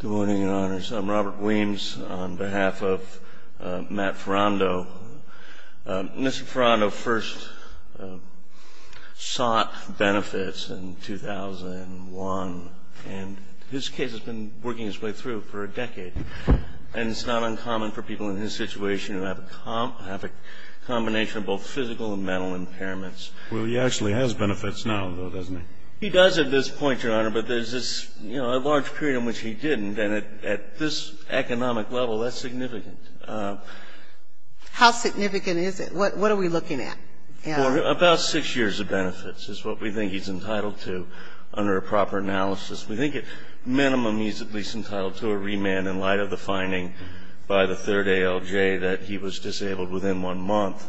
Good morning, Your Honors. I'm Robert Weems on behalf of Matt Ferrando. Mr. Ferrando first sought benefits in 2001, and his case has been working its way through for a decade. And it's not uncommon for people in his situation who have a combination of both physical and mental impairments. Well, he actually has benefits now, though, doesn't he? He does at this point, Your Honor, but there's this, you know, a large period in which he didn't, and at this economic level, that's significant. How significant is it? What are we looking at? About six years of benefits is what we think he's entitled to under a proper analysis. We think at minimum he's at least entitled to a remand in light of the finding by the third ALJ that he was disabled within one month,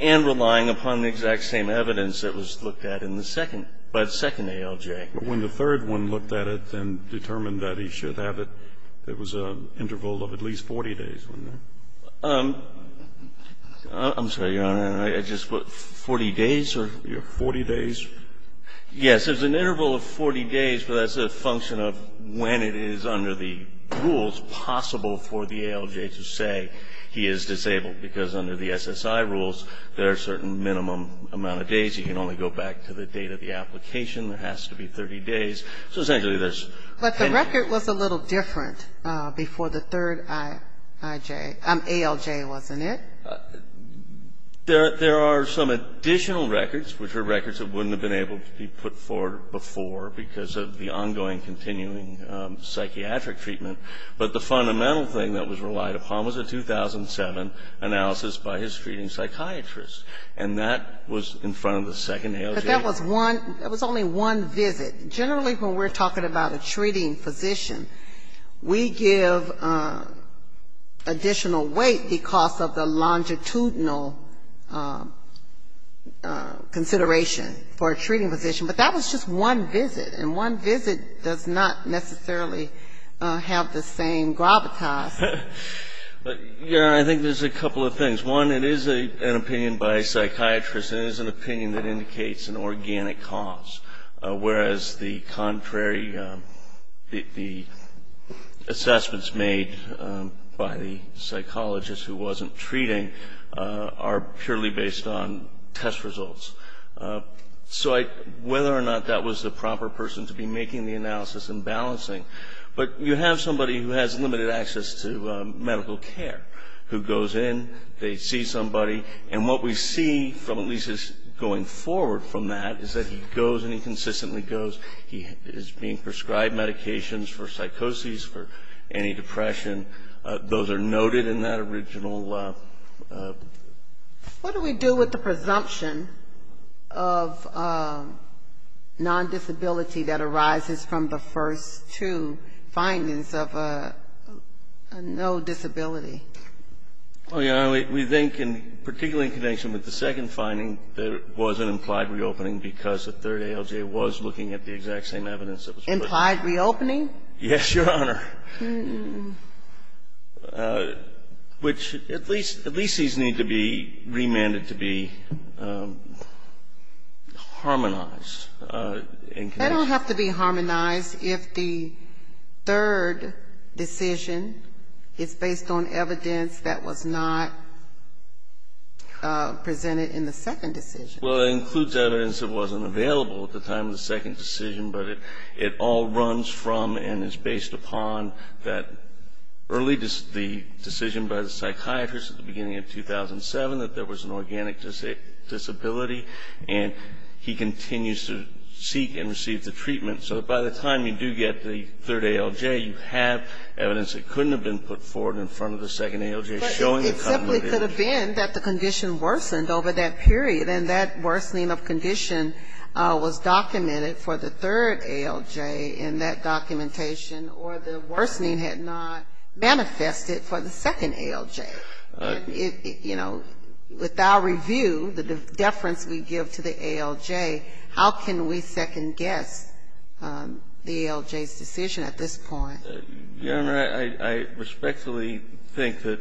and relying upon the exact same evidence that was looked at in the second, by the second ALJ. But when the third one looked at it and determined that he should have it, it was an interval of at least 40 days, wasn't it? I'm sorry, Your Honor. I just, what, 40 days or? Yes, 40 days. Yes. There's an interval of 40 days, but that's a function of when it is under the rules possible for the ALJ to say he is disabled, because under the SSI rules, there are certain minimum amount of days. He can only go back to the date of the application. There has to be 30 days. But the record was a little different before the third ALJ, wasn't it? There are some additional records, which are records that wouldn't have been able to be put forward before because of the ongoing, continuing psychiatric treatment. But the fundamental thing that was relied upon was a 2007 analysis by his treating psychiatrist. And that was in front of the second ALJ. But that was one, that was only one visit. Generally, when we're talking about a treating physician, we give additional weight because of the longitudinal consideration for a treating physician. But that was just one visit. And one visit does not necessarily have the same gravitas. But, Your Honor, I think there's a couple of things. One, it is an opinion by a psychiatrist. It is an opinion that indicates an organic cause, whereas the contrary, the assessments made by the psychologist who wasn't treating are purely based on test results. So whether or not that was the proper person to be making the analysis and balancing. But you have somebody who has limited access to medical care who goes in, they see somebody, and what we see from at least going forward from that is that he goes and he consistently goes. He is being prescribed medications for psychosis, for antidepressant. Those are noted in that original. What do we do with the presumption of non-disability that arises from the first two findings of no disability? Well, Your Honor, we think, particularly in connection with the second finding, there was an implied reopening because the third ALJ was looking at the exact same evidence. Implied reopening? Yes, Your Honor. Which at least these need to be remanded to be harmonized. They don't have to be harmonized if the third decision is based on evidence that was not presented in the second decision. Well, it includes evidence that wasn't available at the time of the second decision, but it all runs from and is based upon that early decision by the psychiatrist at the beginning of 2007 that there was an organic disability, and he continues to seek and receive the treatment. So that by the time you do get the third ALJ, you have evidence that couldn't have been put forward in front of the second ALJ showing the continuity. But it simply could have been that the condition worsened over that period, and that worsening of condition was documented for the third ALJ in that documentation or the worsening had not manifested for the second ALJ. You know, with our review, the deference we give to the ALJ, how can we second-guess the ALJ's decision at this point? Your Honor, I respectfully think that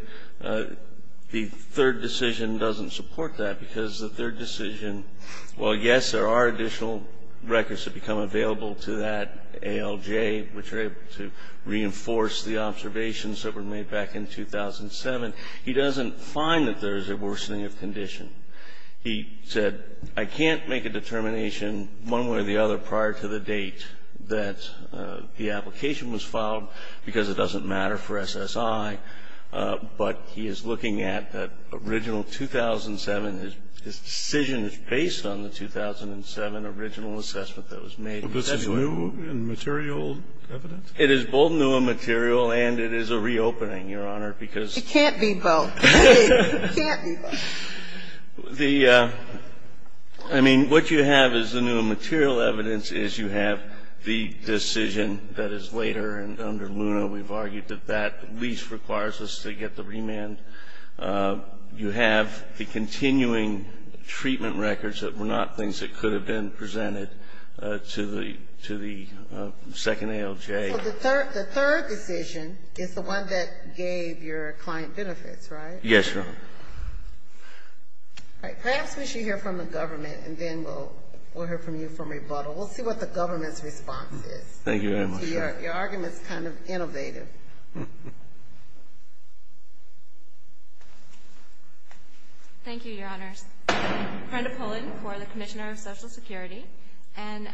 the third decision doesn't support that because the third decision, well, yes, there are additional records that become available to that ALJ, which are able to reinforce the observations that were made back in 2007. He doesn't find that there is a worsening of condition. He said, I can't make a determination one way or the other prior to the date that the application was filed because it doesn't matter for SSI. But he is looking at that original 2007. His decision is based on the 2007 original assessment that was made. Scalia. Well, this is new and material evidence? It is both new and material, and it is a reopening, Your Honor, because It can't be both. It can't be both. The, I mean, what you have is the new and material evidence is you have the decision that is later, and under Luna we've argued that that at least requires us to get the remand. You have the continuing treatment records that were not things that could have been presented to the second ALJ. So the third decision is the one that gave your client benefits, right? Yes, Your Honor. All right. Perhaps we should hear from the government, and then we'll hear from you from rebuttal. We'll see what the government's response is. Thank you very much. Your argument is kind of innovative. Thank you, Your Honors. Brenda Pullen for the Commissioner of Social Security. And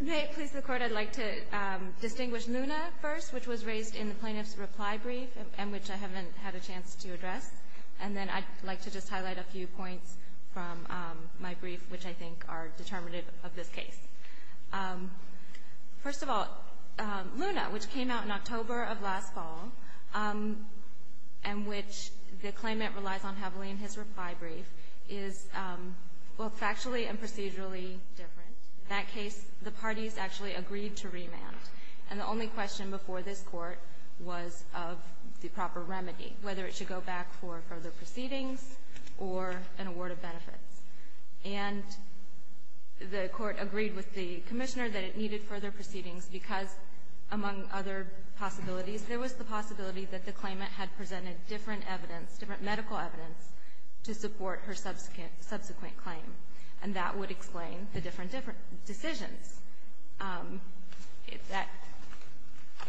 may it please the Court, I'd like to distinguish Luna first, which was raised in the plaintiff's reply brief and which I haven't had a chance to address. And then I'd like to just highlight a few points from my brief, which I think are determinative of this case. First of all, Luna, which came out in October of last fall, and which the claimant relies on heavily in his reply brief, is both factually and procedurally different. In that case, the parties actually agreed to remand. And the only question before this Court was of the proper remedy, whether it should go back for further proceedings or an award of benefits. And the Court agreed with the Commissioner that it needed further proceedings because, among other possibilities, there was the possibility that the claimant had presented different evidence, different medical evidence, to support her subsequent claim. And that would explain the different decisions.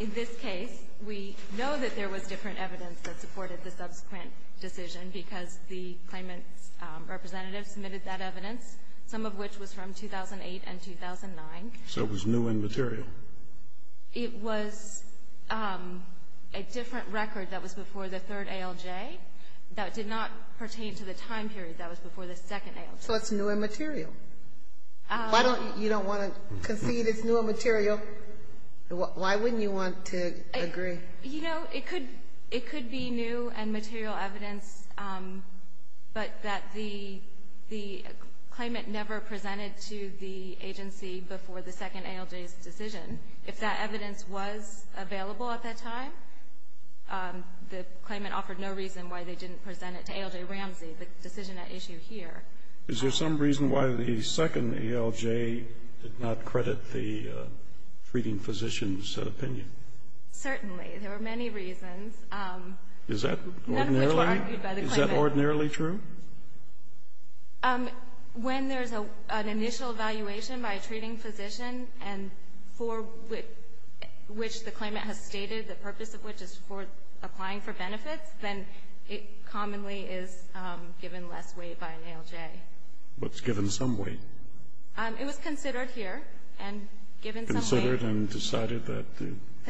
In this case, we know that there was different evidence that supported the subsequent decision because the claimant's representative submitted that evidence, some of which was from 2008 and 2009. So it was new and material. It was a different record that was before the third ALJ that did not pertain to the time period that was before the second ALJ. So it's new and material. Why don't you don't want to concede it's new and material? Why wouldn't you want to agree? You know, it could be new and material evidence, but that the claimant never presented to the agency before the second ALJ's decision. If that evidence was available at that time, the claimant offered no reason why they didn't present it to ALJ Ramsey, the decision at issue here. Is there some reason why the second ALJ did not credit the treating physician's opinion? Certainly. There were many reasons. Is that ordinarily true? When there's an initial evaluation by a treating physician and for which the claimant has stated, the purpose of which is for applying for benefits, then it commonly is given less weight by an ALJ. But it's given some weight. It was considered here and given some weight. Considered and decided that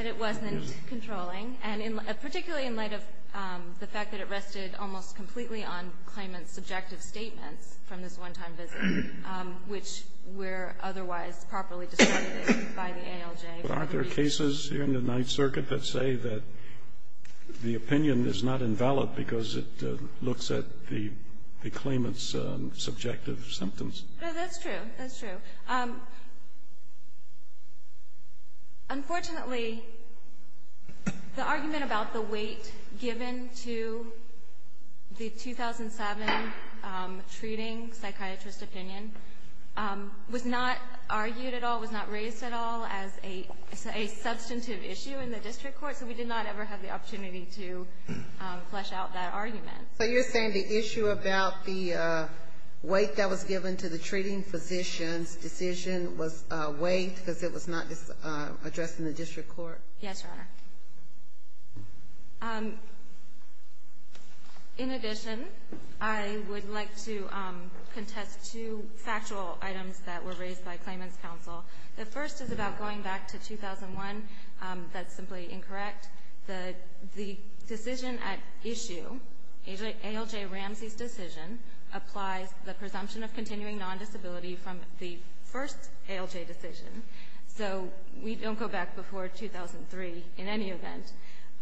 it wasn't controlling. And particularly in light of the fact that it rested almost completely on claimant's subjective statements from this one-time visit, which were otherwise properly described by the ALJ. But aren't there cases here in the Ninth Circuit that say that the opinion is not invalid because it looks at the claimant's subjective symptoms? No, that's true. That's true. Unfortunately, the argument about the weight given to the 2007 treating psychiatrist's opinion was not argued at all, was not raised at all as a substantive issue in the district court. So we did not ever have the opportunity to flesh out that argument. So you're saying the issue about the weight that was given to the treating physician's decision was weighed because it was not addressed in the district court? Yes, Your Honor. Thank you, Your Honor. In addition, I would like to contest two factual items that were raised by claimant's counsel. The first is about going back to 2001. That's simply incorrect. The decision at issue, ALJ Ramsey's decision, applies the presumption of continuing non-disability from the first ALJ decision. So we don't go back before 2003 in any event.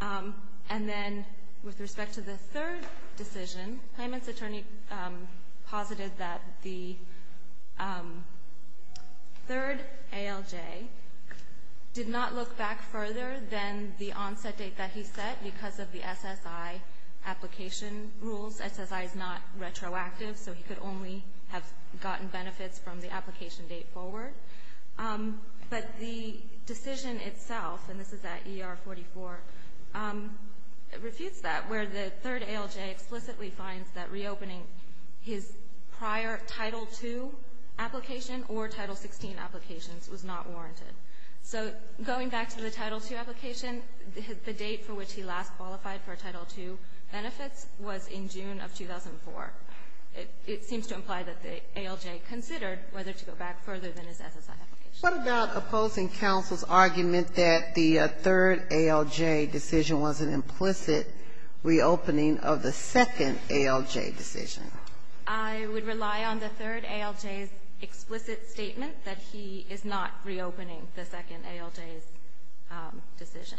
And then with respect to the third decision, claimant's attorney posited that the third ALJ did not look back further than the onset date that he set because of the SSI application rules. SSI is not retroactive, so he could only have gotten benefits from the application date forward. But the decision itself, and this is at ER44, refutes that, where the third ALJ explicitly finds that reopening his prior Title II application or Title XVI applications was not warranted. So going back to the Title II application, the date for which he last qualified for Title II benefits was in June of 2004. It seems to imply that the ALJ considered whether to go back further than his SSI application. What about opposing counsel's argument that the third ALJ decision was an implicit reopening of the second ALJ decision? I would rely on the third ALJ's explicit statement that he is not reopening the second ALJ's decision.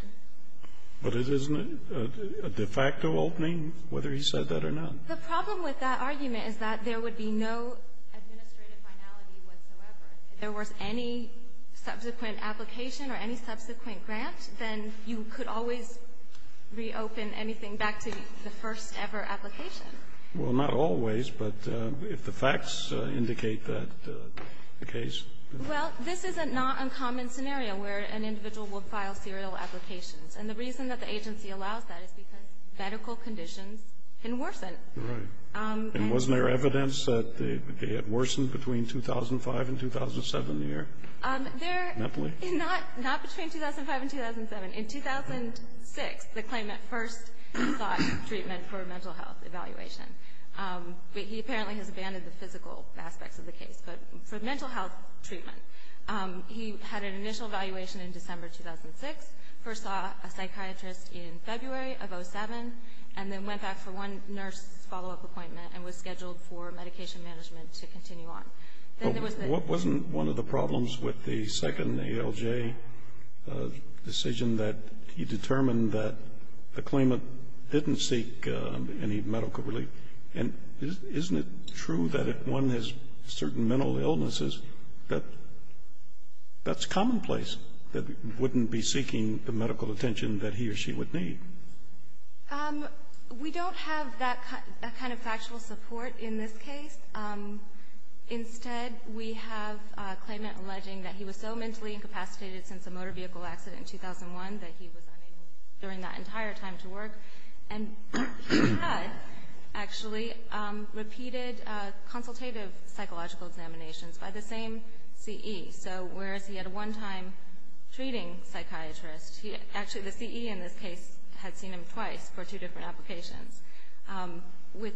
But isn't it a de facto opening, whether he said that or not? The problem with that argument is that there would be no administrative finality whatsoever. If there was any subsequent application or any subsequent grant, then you could always reopen anything back to the first-ever application. Well, not always, but if the facts indicate that case. Well, this is a not uncommon scenario where an individual would file serial applications. And the reason that the agency allows that is because medical conditions can worsen. Right. And wasn't there evidence that it worsened between 2005 and 2007 here? Not between 2005 and 2007. In 2006, the claimant first sought treatment for a mental health evaluation. But he apparently has abandoned the physical aspects of the case. But for mental health treatment, he had an initial evaluation in December 2006, first saw a psychiatrist in February of 2007, and then went back for one nurse follow-up appointment and was scheduled for medication management to continue on. What wasn't one of the problems with the second ALJ decision that he determined that the claimant didn't seek any medical relief? And isn't it true that if one has certain mental illnesses, that that's commonplace, that he wouldn't be seeking the medical attention that he or she would need? We don't have that kind of factual support in this case. Instead, we have a claimant alleging that he was so mentally incapacitated since a motor vehicle accident in 2001 that he was unable during that entire time to work. And he had, actually, repeated consultative psychological examinations by the same CE. So whereas he had a one-time treating psychiatrist, actually the CE in this case had seen him twice for two different applications. With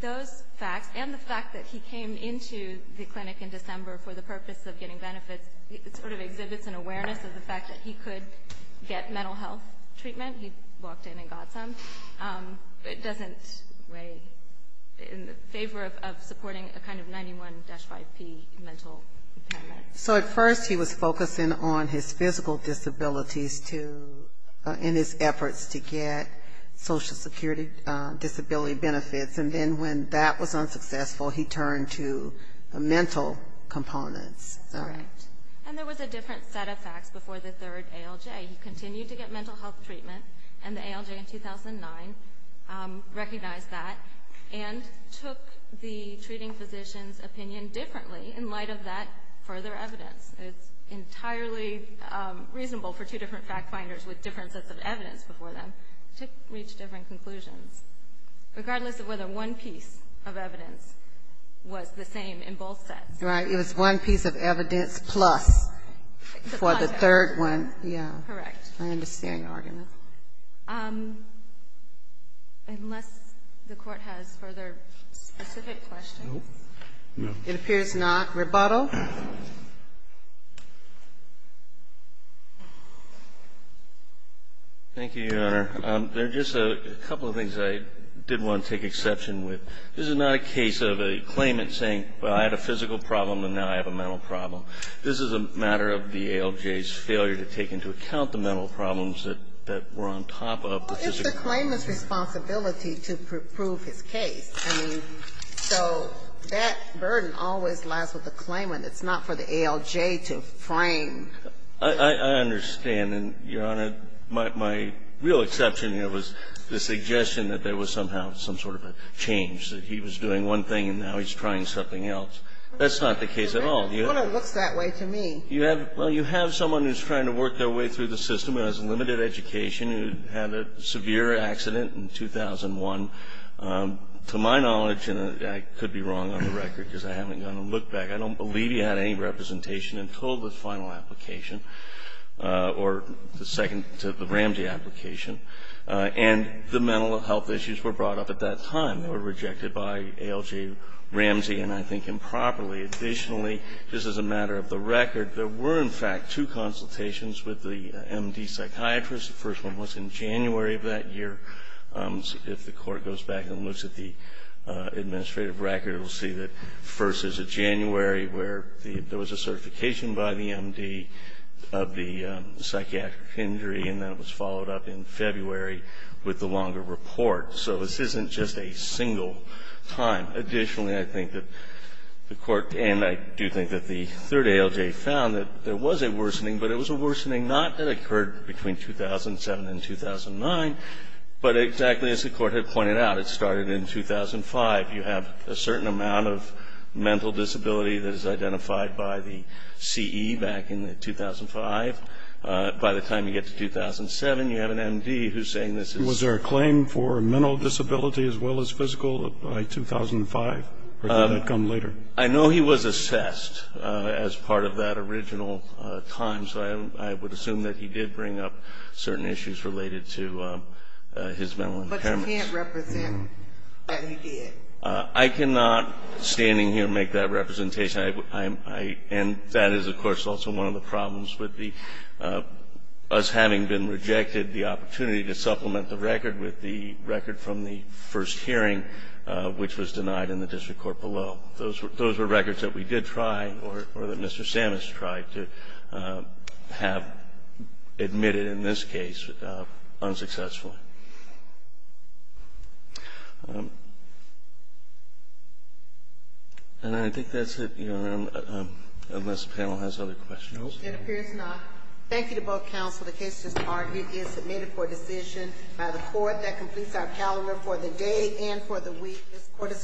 those facts and the fact that he came into the clinic in December for the purpose of getting benefits, it sort of exhibits an awareness of the fact that he could get mental health treatment. He walked in and got some. It doesn't weigh in favor of supporting a kind of 91-5P mental impairment. So at first he was focusing on his physical disabilities in his efforts to get social security disability benefits. And then when that was unsuccessful, he turned to mental components. That's correct. And there was a different set of facts before the third ALJ. He continued to get mental health treatment, and the ALJ in 2009 recognized that and took the treating physician's opinion differently in light of that further evidence. It's entirely reasonable for two different fact finders with different sets of evidence before them to reach different conclusions, regardless of whether one piece of evidence was the same in both sets. Right. It was one piece of evidence plus for the third one. Correct. I understand your argument. Unless the Court has further specific questions. No. It appears not. Rebuttal. Thank you, Your Honor. There are just a couple of things I did want to take exception with. This is not a case of a claimant saying, well, I had a physical problem and now I have a mental problem. This is a matter of the ALJ's failure to take into account the mental problems that were on top of the physical. Well, it's the claimant's responsibility to prove his case. I mean, so that burden always lies with the claimant. It's not for the ALJ to frame. I understand. And, Your Honor, my real exception here was the suggestion that there was somehow some sort of a change, that he was doing one thing and now he's trying something else. That's not the case at all. It looks that way to me. Well, you have someone who's trying to work their way through the system who has limited education, who had a severe accident in 2001. To my knowledge, and I could be wrong on the record because I haven't gone and looked back, I don't believe he had any representation until the final application or the second, the Ramsey application. And the mental health issues were brought up at that time. They were rejected by ALJ, Ramsey, and I think improperly. Additionally, just as a matter of the record, there were, in fact, two consultations with the M.D. psychiatrist. The first one was in January of that year. If the Court goes back and looks at the administrative record, it will see that first is in January, where there was a certification by the M.D. of the psychiatric injury, and then it was followed up in February with the longer report. So this isn't just a single time. Additionally, I think that the Court, and I do think that the third ALJ found that there was a worsening, but it was a worsening not that occurred between 2007 and 2009, but exactly as the Court had pointed out. It started in 2005. You have a certain amount of mental disability that is identified by the C.E. back in 2005. By the time you get to 2007, you have an M.D. who's saying this is. Was there a claim for mental disability as well as physical by 2005, or did that come later? I know he was assessed as part of that original time, so I would assume that he did bring up certain issues related to his mental impairments. But you can't represent that he did. I cannot, standing here, make that representation. And that is, of course, also one of the problems with us having been rejected, the opportunity to supplement the record with the record from the first hearing, which was denied in the district court below. Those were records that we did try or that Mr. Sammis tried to have admitted in this case unsuccessfully. And I think that's it, Your Honor, unless the panel has other questions. It appears not. Thank you to both counsel. The case is submitted for decision by the court. That completes our calendar for the day and for the week. This court is adjourned.